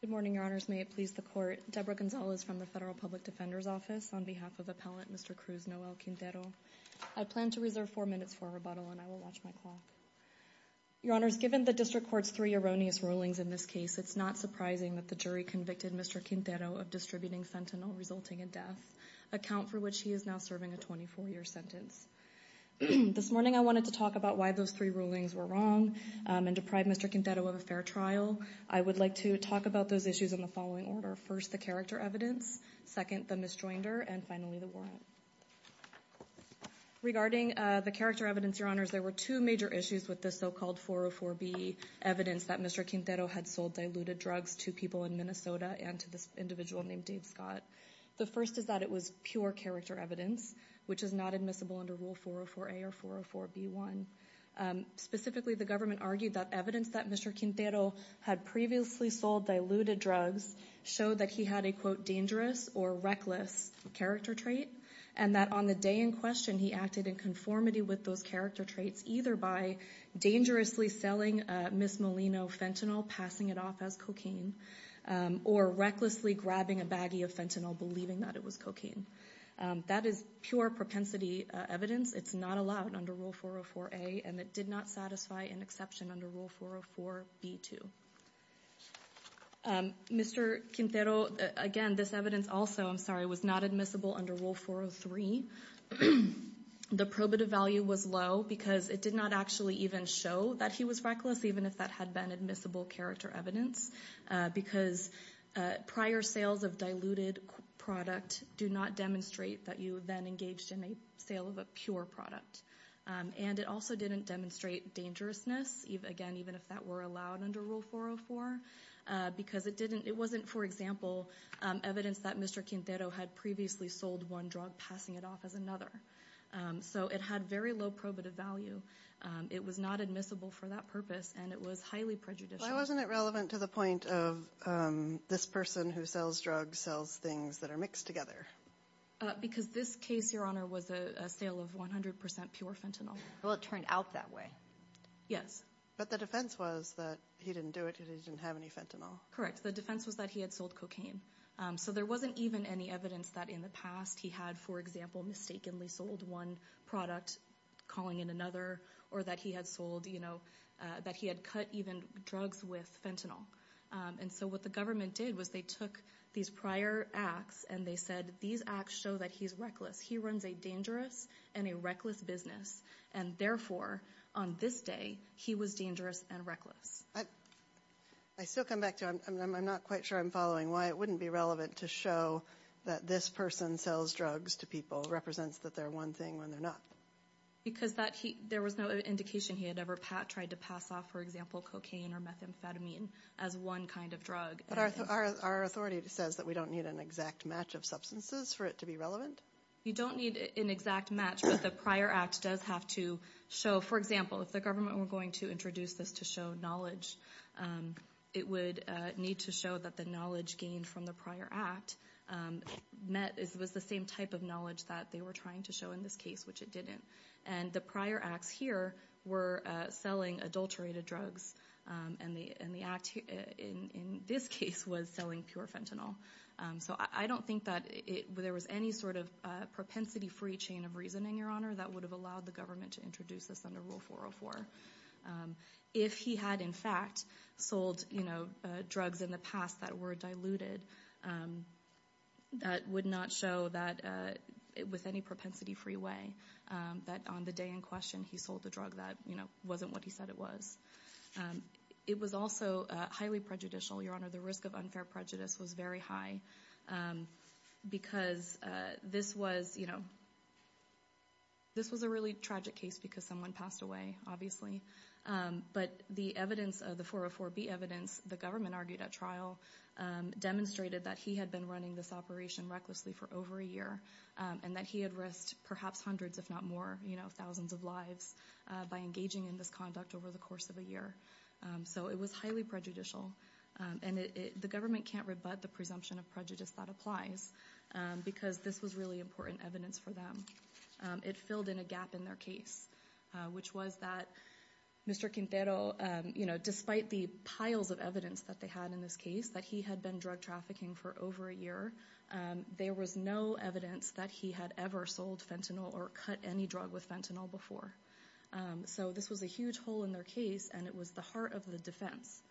Good morning, Your Honors. May it please the Court, Deborah Gonzales from the Federal Public Defender's Office on behalf of Appellant Mr. Cruz Noel Quintero. I plan to reserve four minutes for rebuttal and I will watch my clock. Your Honors, given the District Court's three erroneous rulings in this case, it's not surprising that the jury convicted Mr. Quintero of distributing Sentinel resulting in death, a count for which he is now serving a 24-year sentence. This morning, I wanted to talk about why those three rulings were wrong and deprive Mr. Quintero of a fair trial. I would like to talk about those issues in the following order. First, the character evidence, second, the misjoinder, and finally, the warrant. Regarding the character evidence, Your Honors, there were two major issues with this so-called 404B evidence that Mr. Quintero had sold diluted drugs to people in Minnesota and to this individual named Dave Scott. The first is that it was pure character evidence, which is not admissible under Rule 404A or 404B1. Specifically, the government argued that evidence that Mr. Quintero had previously sold diluted drugs showed that he had a, quote, dangerous or reckless character trait and that on the day in question, he acted in conformity with those character traits either by dangerously selling Ms. Molino fentanyl, passing it off as cocaine, or recklessly grabbing a baggie of fentanyl, believing that it was cocaine. That is pure propensity evidence. It's not allowed under Rule 404A and it did not satisfy an exception under Rule 404B2. Mr. Quintero, again, this evidence also, I'm sorry, was not admissible under Rule 403. The probative value was low because it did not actually even show that he was reckless, even if that had been admissible character evidence, because prior sales of diluted product do not demonstrate that you then engaged in a sale of a pure product. And it also didn't demonstrate dangerousness, again, even if that were allowed under Rule 404, because it didn't, it wasn't, for example, evidence that Mr. Quintero had previously sold one drug, passing it off as another. So it had very low probative value. It was not admissible for that purpose and it was highly prejudicial. Why wasn't it relevant to the point of this person who sells drugs, sells things that are mixed together? Because this case, Your Honor, was a sale of 100% pure fentanyl. Well, it turned out that way. Yes. But the defense was that he didn't do it, that he didn't have any fentanyl. Correct. The defense was that he had sold cocaine. So there wasn't even any evidence that in the past he had, for example, mistakenly sold one product, calling it another, or that he had sold, you know, that he had cut even drugs with fentanyl. And so what the government did was they took these prior acts and they said, these acts show that he's reckless. He runs a dangerous and a reckless business. And therefore, on this day, he was dangerous and reckless. I still come back to, I'm not quite sure I'm following why it wouldn't be relevant to show that this person sells drugs to people represents that they're one thing when they're not. Because there was no indication he had ever tried to pass off, for example, cocaine or methamphetamine as one kind of drug. But our authority says that we don't need an exact match of substances for it to be relevant? You don't need an exact match, but the prior act does have to show. For example, if the government were going to introduce this to show knowledge, it would need to show that the knowledge gained from the prior act was the same type of knowledge that they were trying to show in this case, which it didn't. And the prior acts here were selling adulterated drugs. And the act in this case was selling pure fentanyl. So I don't think that there was any sort of propensity-free chain of reasoning, Your Honor, that would have allowed the government to introduce this under Rule 404. If he had, in fact, sold drugs in the past that were diluted, that would not show that with any propensity-free way, that on the day in question he sold a drug that wasn't what he said it was. It was also highly prejudicial, Your Honor. The risk of unfair prejudice was very high because this was a really tragic case because someone passed away, obviously, but the evidence of the 404B evidence the government argued at trial demonstrated that he had been running this operation recklessly for over a year and that he had risked perhaps hundreds if not more, you know, thousands of lives by engaging in this conduct over the course of a year. So it was highly prejudicial. And the government can't rebut the presumption of prejudice that applies because this was really important evidence for them. It filled in a gap in their case, which was that Mr. Quintero, you know, despite the piles of evidence that they had in this case, that he had been drug trafficking for over a year, there was no evidence that he had ever sold fentanyl or cut any drug with fentanyl before. So this was a huge hole in their case, and it was the heart of the defense.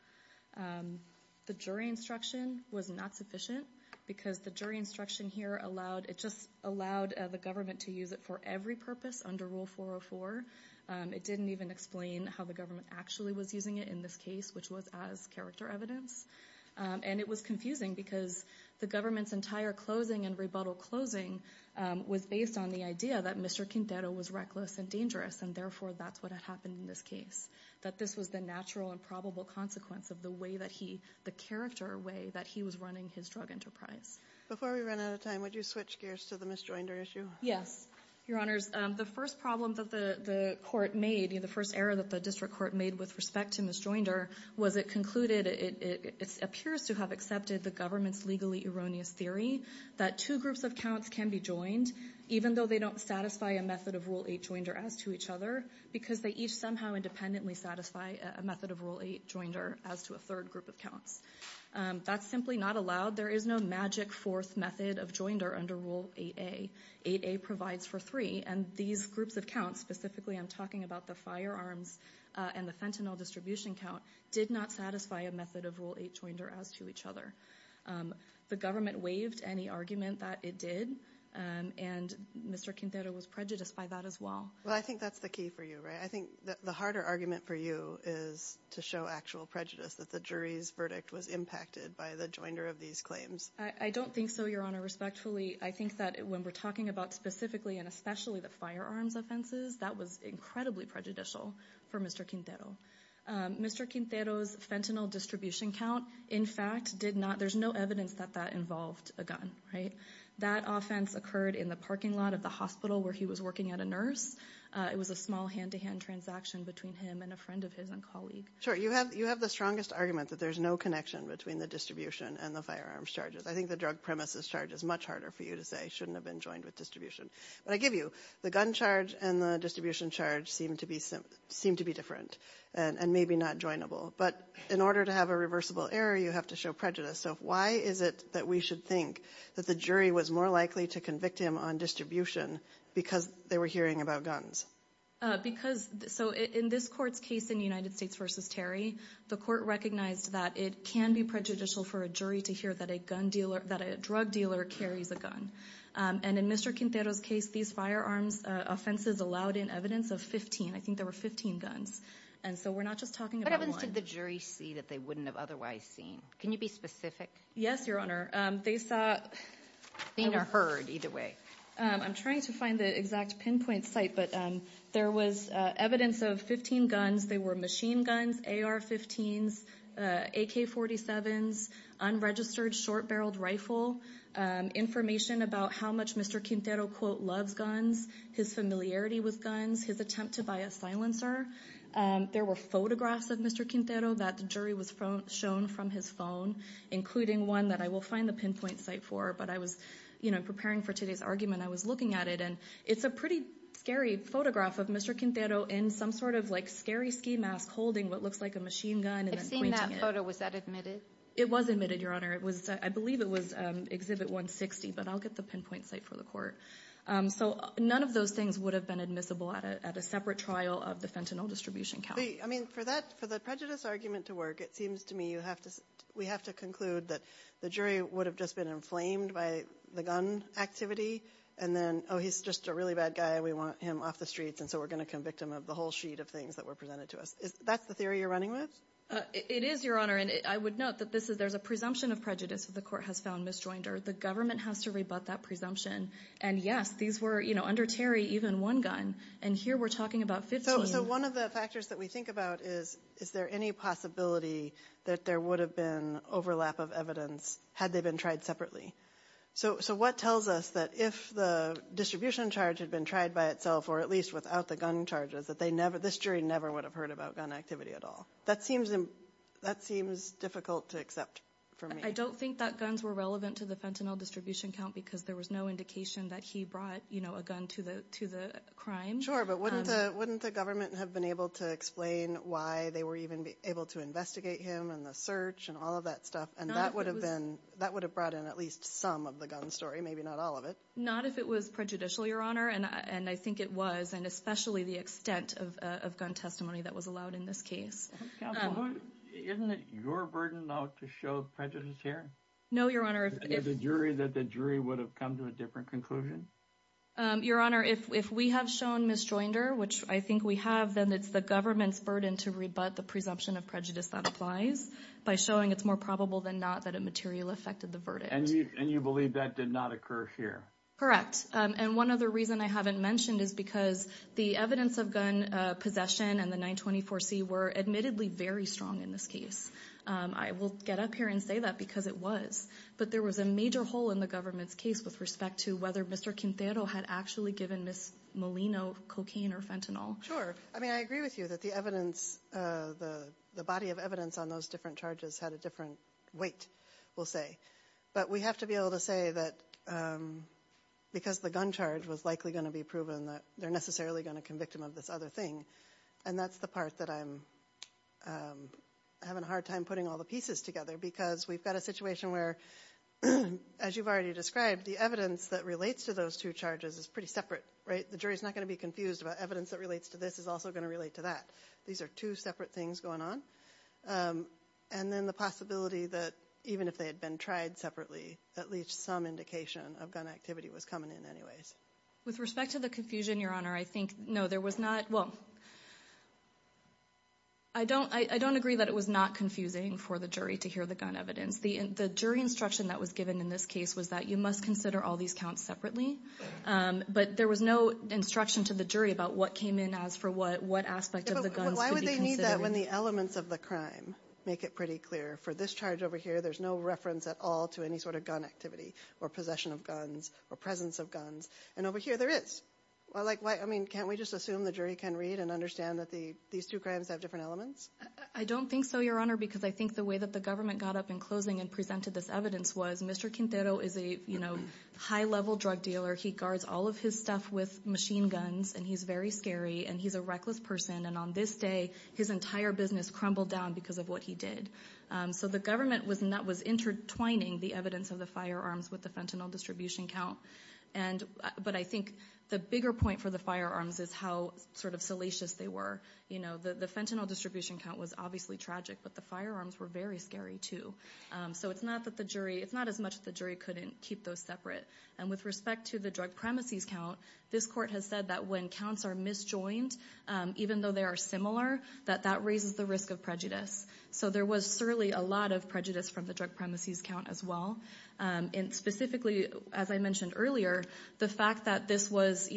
The jury instruction was not sufficient because the jury instruction here allowed, it just allowed the government to use it for every purpose under Rule 404. It didn't even explain how the government actually was using it in this case, which was as character evidence. And it was confusing because the government's entire closing and rebuttal closing was based on the idea that Mr. Quintero was reckless and dangerous, and therefore that's what had happened in this case, that this was the natural and probable consequence of the way that he, the character way that he was running his drug enterprise. Before we run out of time, would you switch gears to the misjoinder issue? Yes. Your Honors, the first problem that the court made, the first error that the district court made with respect to misjoinder, was it concluded, it appears to have accepted the government's legally erroneous theory that two groups of counts can be joined, even though they don't satisfy a method of Rule 8 joinder as to each other, because they each somehow independently satisfy a method of Rule 8 joinder as to a third group of counts. That's simply not allowed. There is no magic fourth method of joinder under Rule 8A. 8A provides for three, and these groups of counts, specifically I'm talking about the firearms and the fentanyl distribution count, did not satisfy a method of Rule 8 joinder as to each other. The government waived any argument that it did, and Mr. Quintero was prejudiced by that as well. Well, I think that's the key for you, right? I think the harder argument for you is to show actual prejudice, that the jury's verdict was impacted by the joinder of these claims. I don't think so, Your Honor, respectfully. I think that when we're talking about specifically and especially the firearms offenses, that was incredibly prejudicial for Mr. Quintero. Mr. Quintero's fentanyl distribution count, in fact, did not, there's no evidence that that involved a gun, right? That offense occurred in the parking lot of the hospital where he was working at a nurse. It was a small hand-to-hand transaction between him and a friend of his and colleague. Sure, you have the strongest argument that there's no connection between the distribution and the firearms charges. I think the drug premises charge is much harder for you to say, shouldn't have been joined with distribution. But I give you, the gun charge and the distribution charge seem to be different, and maybe not joinable. But in order to have a reversible error, you have to show prejudice. So why is it that we should think that the jury was more likely to convict him on distribution because they were hearing about guns? Because, so in this court's case in United States v. Terry, the court recognized that it can be prejudicial for a jury to hear that a drug dealer carries a gun. And in Mr. Quintero's case, these firearms offenses allowed in evidence of 15. I think there were 15 guns. And so we're not just talking about one. What evidence did the jury see that they wouldn't have otherwise seen? Can you be specific? Yes, Your Honor. They saw. Seen or heard, either way. I'm trying to find the exact pinpoint site, but there was evidence of 15 guns. They were machine guns, AR-15s, AK-47s, unregistered short-barreled rifle, information about how much Mr. Quintero, quote, loves guns, his familiarity with guns, his attempt to buy a silencer. There were photographs of Mr. Quintero that the jury was shown from his phone, including one that I will find the pinpoint site for. But I was, you know, preparing for today's argument. I was looking at it, and it's a pretty scary photograph of Mr. Quintero in some sort of, like, scary ski mask holding what looks like a machine gun. I've seen that photo. Was that admitted? It was admitted, Your Honor. I believe it was Exhibit 160, but I'll get the pinpoint site for the court. So none of those things would have been admissible at a separate trial of the fentanyl distribution company. I mean, for the prejudice argument to work, it seems to me we have to conclude that the jury would have just been inflamed by the gun activity. And then, oh, he's just a really bad guy, and we want him off the streets, and so we're going to convict him of the whole sheet of things that were presented to us. That's the theory you're running with? It is, Your Honor. And I would note that there's a presumption of prejudice that the court has found misjoined, or the government has to rebut that presumption. And, yes, these were, you know, under Terry, even one gun. And here we're talking about 15. So one of the factors that we think about is, is there any possibility that there would have been overlap of evidence had they been tried separately? So what tells us that if the distribution charge had been tried by itself, or at least without the gun charges, that this jury never would have heard about gun activity at all? That seems difficult to accept for me. I don't think that guns were relevant to the fentanyl distribution count because there was no indication that he brought, you know, a gun to the crime. Sure, but wouldn't the government have been able to explain why they were even able to investigate him and the search and all of that stuff? And that would have brought in at least some of the gun story, maybe not all of it. Not if it was prejudicial, Your Honor. And I think it was, and especially the extent of gun testimony that was allowed in this case. Counsel, isn't it your burden now to show prejudice here? No, Your Honor. That the jury would have come to a different conclusion? Your Honor, if we have shown misjoinder, which I think we have, then it's the government's burden to rebut the presumption of prejudice that applies by showing it's more probable than not that a material affected the verdict. And you believe that did not occur here? Correct. And one other reason I haven't mentioned is because the evidence of gun possession and the 924C were admittedly very strong in this case. I will get up here and say that because it was. But there was a major hole in the government's case with respect to whether Mr. Quintero had actually given Ms. Molino cocaine or fentanyl. Sure. I mean, I agree with you that the evidence, the body of evidence on those different charges had a different weight, we'll say. But we have to be able to say that because the gun charge was likely going to be proven that they're necessarily going to convict him of this other thing. And that's the part that I'm having a hard time putting all the pieces together because we've got a situation where, as you've already described, the evidence that relates to those two charges is pretty separate, right? The jury's not going to be confused about evidence that relates to this is also going to relate to that. These are two separate things going on. And then the possibility that even if they had been tried separately, at least some indication of gun activity was coming in anyways. With respect to the confusion, Your Honor, I think, no, there was not. Well, I don't agree that it was not confusing for the jury to hear the gun evidence. The jury instruction that was given in this case was that you must consider all these counts separately. But there was no instruction to the jury about what came in as for what aspect of the guns to be considered. But why would they need that when the elements of the crime make it pretty clear? For this charge over here, there's no reference at all to any sort of gun activity or possession of guns or presence of guns. And over here, there is. Well, can't we just assume the jury can read and understand that these two crimes have different elements? I don't think so, Your Honor, because I think the way that the government got up in closing and presented this evidence was Mr. Quintero is a high-level drug dealer. He guards all of his stuff with machine guns, and he's very scary, and he's a reckless person. And on this day, his entire business crumbled down because of what he did. So the government was intertwining the evidence of the firearms with the fentanyl distribution count. But I think the bigger point for the firearms is how sort of salacious they were. The fentanyl distribution count was obviously tragic, but the firearms were very scary too. So it's not as much that the jury couldn't keep those separate. And with respect to the drug premises count, this court has said that when counts are misjoined, even though they are similar, that that raises the risk of prejudice. So there was certainly a lot of prejudice from the drug premises count as well. And specifically, as I mentioned earlier, the fact that this was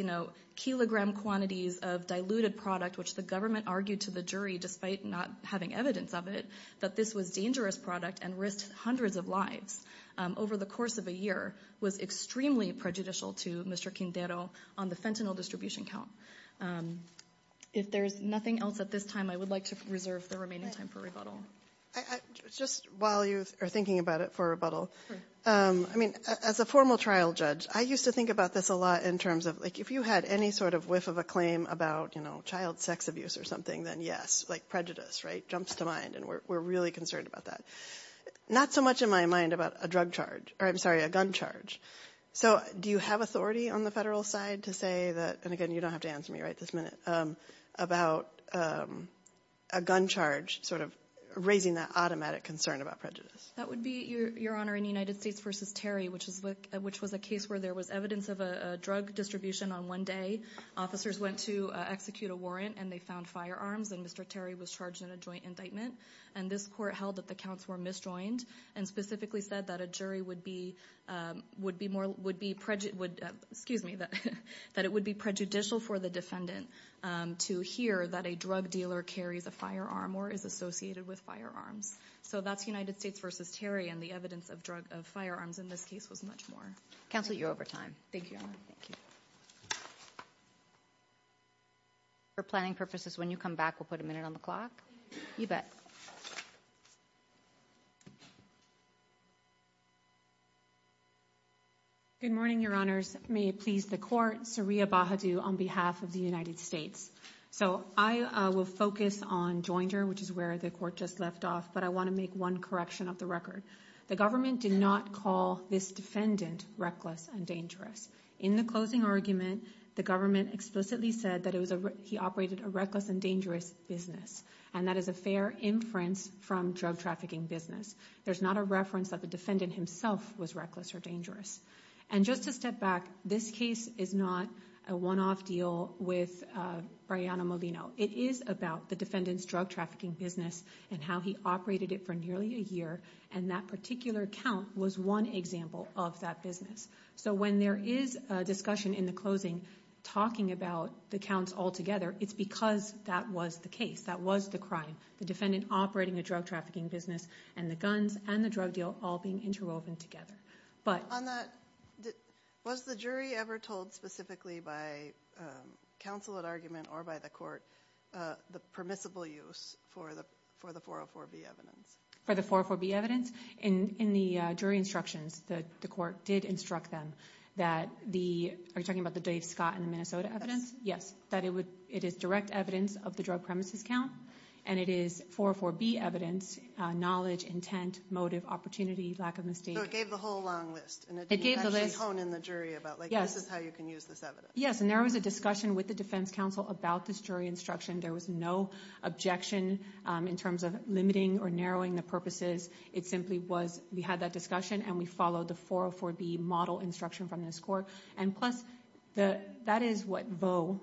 kilogram quantities of diluted product, which the government argued to the jury despite not having evidence of it, that this was dangerous product and risked hundreds of lives over the course of a year, was extremely prejudicial to Mr. Quintero on the fentanyl distribution count. If there's nothing else at this time, I would like to reserve the remaining time for rebuttal. Just while you are thinking about it for rebuttal, I mean, as a formal trial judge, I used to think about this a lot in terms of like if you had any sort of whiff of a claim about, you know, child sex abuse or something, then yes, like prejudice, right? Jumps to mind. And we're really concerned about that. Not so much in my mind about a drug charge or I'm sorry, a gun charge. So do you have authority on the federal side to say that? And again, you don't have to answer me right this minute about a gun charge sort of raising that automatic concern about prejudice. That would be your honor in the United States versus Terry, which is which was a case where there was evidence of a drug distribution on one day. Officers went to execute a warrant and they found firearms. And Mr. Terry was charged in a joint indictment. And this court held that the counts were misjoined and specifically said that a jury would be would be more, excuse me, that it would be prejudicial for the defendant to hear that a drug dealer carries a firearm or is associated with firearms. So that's United States versus Terry. And the evidence of drug of firearms in this case was much more. Counselor, you're over time. Thank you. For planning purposes, when you come back, we'll put a minute on the clock. You bet. Good morning, Your Honors. May it please the court. Sariya Bahadur on behalf of the United States. So I will focus on Joinder, which is where the court just left off. But I want to make one correction of the record. The government did not call this defendant reckless and dangerous. In the closing argument, the government explicitly said that it was he operated a reckless and dangerous business. And that is a fair inference from drug trafficking business. There's not a reference that the defendant himself was reckless or dangerous. And just to step back, this case is not a one off deal with Brianna Molina. It is about the defendant's drug trafficking business and how he operated it for nearly a year. And that particular account was one example of that business. So when there is a discussion in the closing talking about the counts altogether, it's because that was the case. That was the crime. The defendant operating a drug trafficking business and the guns and the drug deal all being interwoven together. But on that, was the jury ever told specifically by counsel at argument or by the court the permissible use for the for the 404B evidence? For the 404B evidence? In the jury instructions, the court did instruct them that the, are you talking about the Dave Scott and the Minnesota evidence? Yes. That it would, it is direct evidence of the drug premises count and it is 404B evidence, knowledge, intent, motive, opportunity, lack of misdemeanor. So it gave the whole long list. It gave the list. And it didn't actually hone in the jury about like this is how you can use this evidence. Yes. And there was a discussion with the defense counsel about this jury instruction. There was no objection in terms of limiting or narrowing the purposes. It simply was, we had that discussion and we followed the 404B model instruction from this court. And plus, that is what Vaux,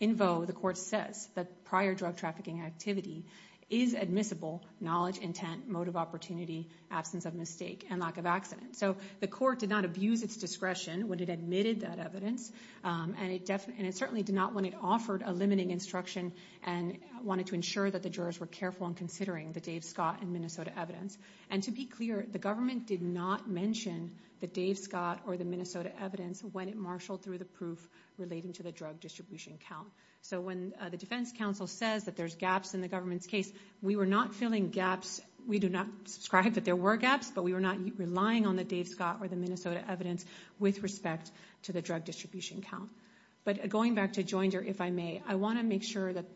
in Vaux, the court says that prior drug trafficking activity is admissible, knowledge, intent, motive, opportunity, absence of mistake, and lack of accident. So the court did not abuse its discretion when it admitted that evidence. And it certainly did not when it offered a limiting instruction and wanted to ensure that the jurors were careful in considering the Dave Scott and Minnesota evidence. And to be clear, the government did not mention the Dave Scott or the Minnesota evidence when it marshaled through the proof relating to the drug distribution count. So when the defense counsel says that there's gaps in the government's case, we were not filling gaps. We do not subscribe that there were gaps, but we were not relying on the Dave Scott or the Minnesota evidence with respect to the drug distribution count. But going back to Joinder, if I may, I want to make sure that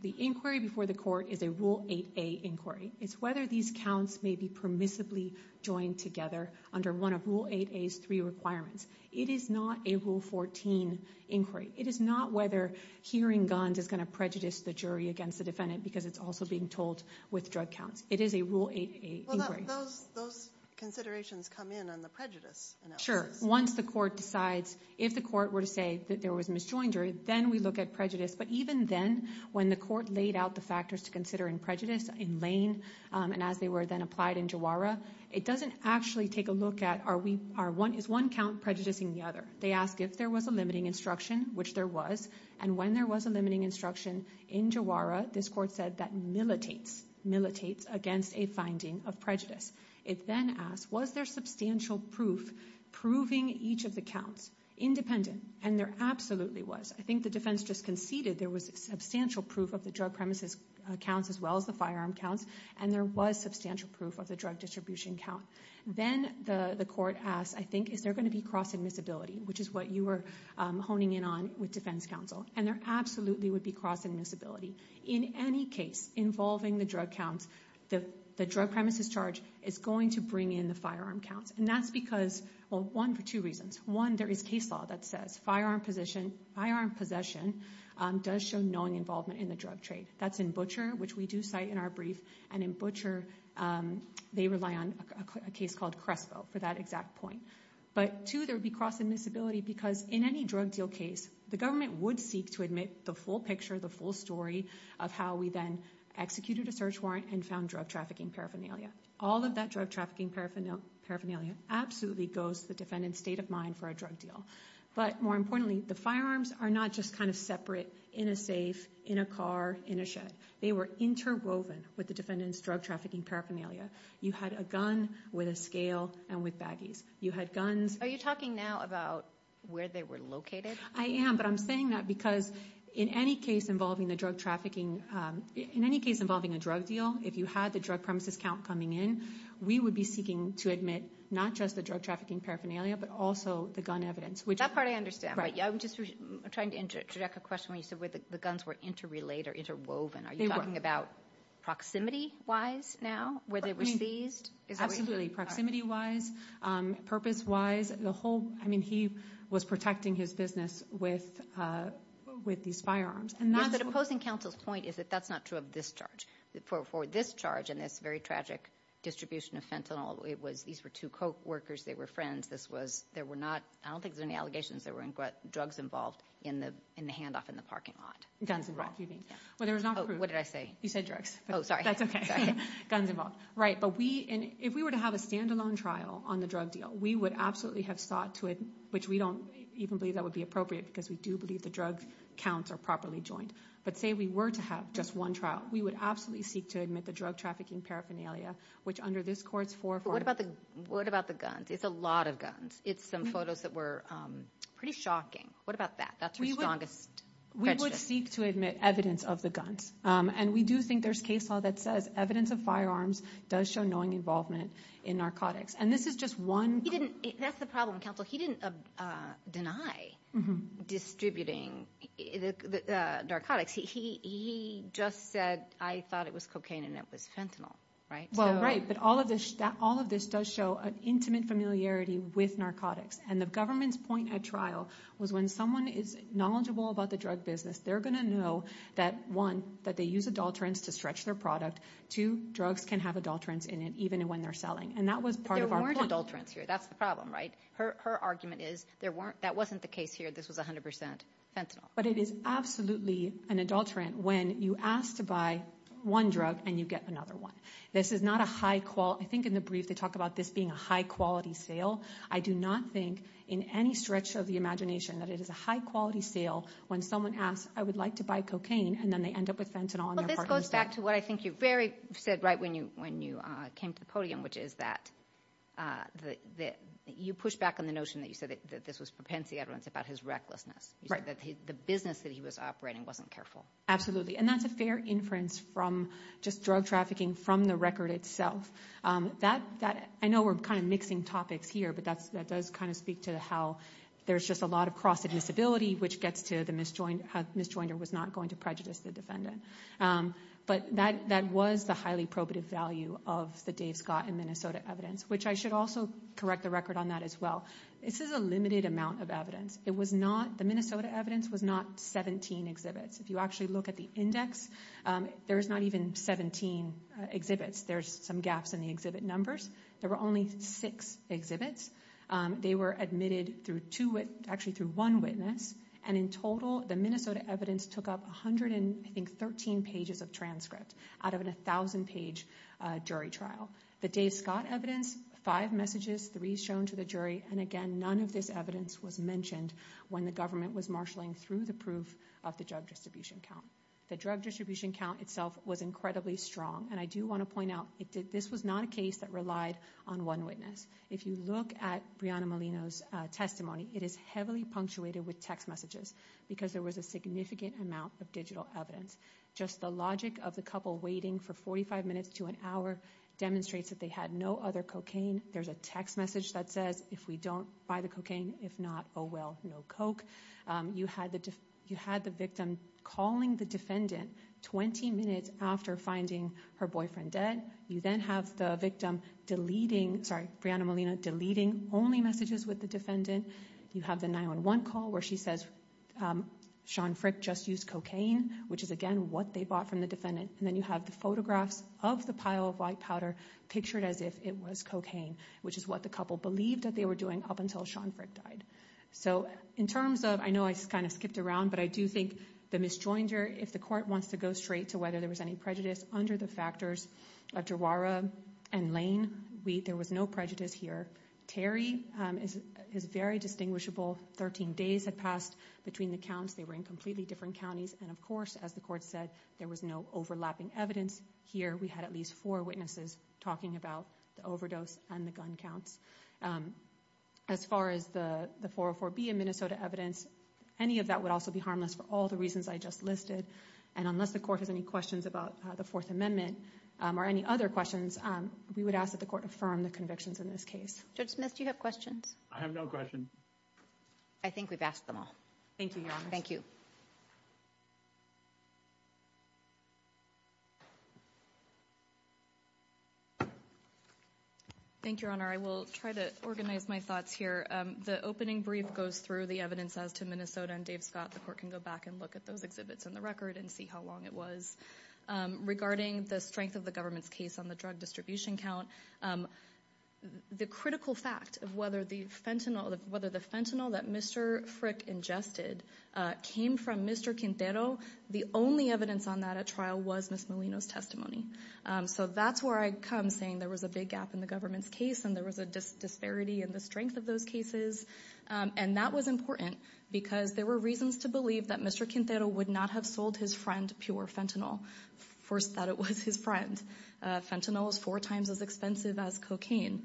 the inquiry before the court is a Rule 8a inquiry. It's whether these counts may be permissibly joined together under one of Rule 8a's three requirements. It is not a Rule 14 inquiry. It is not whether hearing guns is going to prejudice the jury against the defendant because it's also being told with drug counts. It is a Rule 8a inquiry. Those considerations come in on the prejudice analysis. Once the court decides, if the court were to say that there was a misjoined jury, then we look at prejudice. But even then, when the court laid out the factors to consider in prejudice in Lane and as they were then applied in Jawara, it doesn't actually take a look at is one count prejudicing the other. They ask if there was a limiting instruction, which there was. And when there was a limiting instruction in Jawara, this court said that militates against a finding of prejudice. It then asked, was there substantial proof proving each of the counts independent? And there absolutely was. I think the defense just conceded there was substantial proof of the drug premises counts as well as the firearm counts. And there was substantial proof of the drug distribution count. Then the court asked, I think, is there going to be cross-admissibility, which is what you were honing in on with defense counsel. And there absolutely would be cross-admissibility. In any case involving the drug counts, the drug premises charge is going to bring in the firearm counts. And that's because, well, one, for two reasons. One, there is case law that says firearm possession does show knowing involvement in the drug trade. That's in Butcher, which we do cite in our brief. And in Butcher, they rely on a case called Crespo for that exact point. But two, there would be cross-admissibility because in any drug deal case, the government would seek to admit the full picture, the full story of how we then executed a search warrant and found drug trafficking paraphernalia. All of that drug trafficking paraphernalia absolutely goes to the defendant's state of mind for a drug deal. But more importantly, the firearms are not just kind of separate in a safe, in a car, in a shed. They were interwoven with the defendant's drug trafficking paraphernalia. You had a gun with a scale and with baggies. You had guns- Are you talking now about where they were located? I am, but I'm saying that because in any case involving the drug trafficking, in any case involving a drug deal, if you had the drug premises count coming in, we would be seeking to admit not just the drug trafficking paraphernalia but also the gun evidence. That part I understand. I'm just trying to interject a question where you said the guns were interrelated or interwoven. Are you talking about proximity-wise now where they were seized? Absolutely. Proximity-wise, purpose-wise, the whole, I mean, he was protecting his business with these firearms. But opposing counsel's point is that that's not true of this charge. For this charge and this very tragic distribution of fentanyl, these were two co-workers. They were friends. I don't think there were any allegations that there were drugs involved in the handoff in the parking lot. Guns involved, you mean. What did I say? You said drugs. Oh, sorry. That's okay. Guns involved. Right, but if we were to have a standalone trial on the drug deal, we would absolutely have sought to, which we don't even believe that would be appropriate because we do believe the drug counts are properly joined. But say we were to have just one trial, we would absolutely seek to admit the drug trafficking paraphernalia, which under this court's four- What about the guns? It's a lot of guns. It's some photos that were pretty shocking. What about that? That's the strongest- We would seek to admit evidence of the guns. And we do think there's case law that says evidence of firearms does show knowing involvement in narcotics. And this is just one- That's the problem. Counsel, he didn't deny distributing the narcotics. He just said, I thought it was cocaine and it was fentanyl, right? Well, right, but all of this does show an intimate familiarity with narcotics. And the government's point at trial was when someone is knowledgeable about the drug business, they're going to know that, one, that they use adulterants to stretch their product. Two, drugs can have adulterants in it even when they're selling. And that was part of our point. But there weren't adulterants here. That's the problem, right? Her argument is that wasn't the case here. This was 100% fentanyl. But it is absolutely an adulterant when you ask to buy one drug and you get another one. This is not a high- I think in the brief they talk about this being a high-quality sale. I do not think in any stretch of the imagination that it is a high-quality sale when someone asks, I would like to buy cocaine, and then they end up with fentanyl on their parking spot. Well, this goes back to what I think you very said right when you came to the podium, which is that you pushed back on the notion that you said that this was propensity evidence about his recklessness, that the business that he was operating wasn't careful. Absolutely. And that's a fair inference from just drug trafficking from the record itself. I know we're kind of mixing topics here, but that does kind of speak to how there's just a lot of cross-admissibility, which gets to how the misjoinder was not going to prejudice the defendant. But that was the highly probative value of the Dave Scott and Minnesota evidence, which I should also correct the record on that as well. This is a limited amount of evidence. The Minnesota evidence was not 17 exhibits. If you actually look at the index, there's not even 17 exhibits. There's some gaps in the exhibit numbers. There were only six exhibits. They were admitted actually through one witness, and in total the Minnesota evidence took up 113 pages of transcript out of a 1,000-page jury trial. The Dave Scott evidence, five messages, three shown to the jury, and again, none of this evidence was mentioned when the government was marshalling through the proof of the drug distribution count. The drug distribution count itself was incredibly strong, and I do want to point out this was not a case that relied on one witness. If you look at Breonna Molina's testimony, it is heavily punctuated with text messages because there was a significant amount of digital evidence. Just the logic of the couple waiting for 45 minutes to an hour demonstrates that they had no other cocaine. There's a text message that says, if we don't buy the cocaine, if not, oh well, no coke. You had the victim calling the defendant 20 minutes after finding her boyfriend dead. You then have the victim deleting, sorry, Breonna Molina deleting only messages with the defendant. You have the 911 call where she says, Sean Frick just used cocaine, which is again what they bought from the defendant, and then you have the photographs of the pile of white powder pictured as if it was cocaine, which is what the couple believed that they were doing up until Sean Frick died. So in terms of, I know I kind of skipped around, but I do think the misjoinder, if the court wants to go straight to whether there was any prejudice under the factors of Jawara and Lane, there was no prejudice here. Terry, his very distinguishable 13 days had passed between the counts. They were in completely different counties. And, of course, as the court said, there was no overlapping evidence here. We had at least four witnesses talking about the overdose and the gun counts. As far as the 404B in Minnesota evidence, any of that would also be harmless for all the reasons I just listed. And unless the court has any questions about the Fourth Amendment or any other questions, we would ask that the court affirm the convictions in this case. Judge Smith, do you have questions? I have no questions. I think we've asked them all. Thank you, Your Honor. Thank you, Your Honor. I will try to organize my thoughts here. The opening brief goes through the evidence as to Minnesota, and Dave Scott, the court, can go back and look at those exhibits in the record and see how long it was. Regarding the strength of the government's case on the drug distribution count, the critical fact of whether the fentanyl that Mr. Frick ingested came from Mr. Quintero, the only evidence on that at trial was Ms. Molino's testimony. So that's where I come saying there was a big gap in the government's case and there was a disparity in the strength of those cases. And that was important because there were reasons to believe that Mr. Quintero would not have sold his friend pure fentanyl, first that it was his friend. Fentanyl is four times as expensive as cocaine.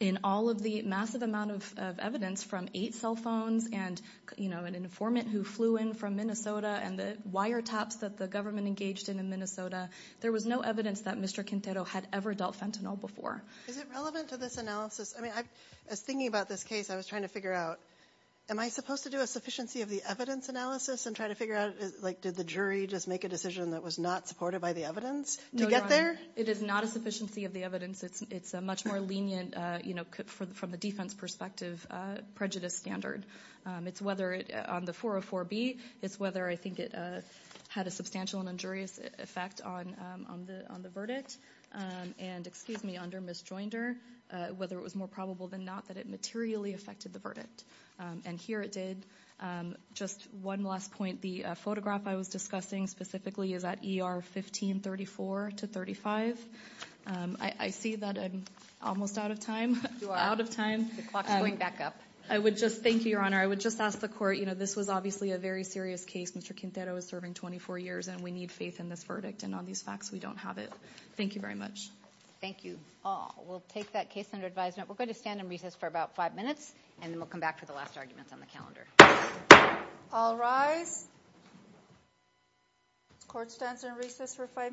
In all of the massive amount of evidence from eight cell phones and an informant who flew in from Minnesota and the wiretaps that the government engaged in in Minnesota, there was no evidence that Mr. Quintero had ever dealt fentanyl before. Is it relevant to this analysis? As I was thinking about this case, I was trying to figure out, am I supposed to do a sufficiency of the evidence analysis and try to figure out, did the jury just make a decision that was not supported by the evidence to get there? No, Your Honor. It is not a sufficiency of the evidence. It's a much more lenient, from the defense perspective, prejudice standard. It's whether on the 404B, it's whether I think it had a substantial and injurious effect on the verdict. And, excuse me, under Ms. Joinder, whether it was more probable than not that it materially affected the verdict. And here it did. Just one last point. The photograph I was discussing specifically is at ER 1534-35. I see that I'm almost out of time. You are. The clock is going back up. Thank you, Your Honor. I would just ask the court, you know, this was obviously a very serious case. Mr. Quintero is serving 24 years, and we need faith in this verdict. And on these facts, we don't have it. Thank you very much. Thank you all. We'll take that case under advisement. We're going to stand in recess for about five minutes, and then we'll come back for the last arguments on the calendar. Court stands in recess for five minutes.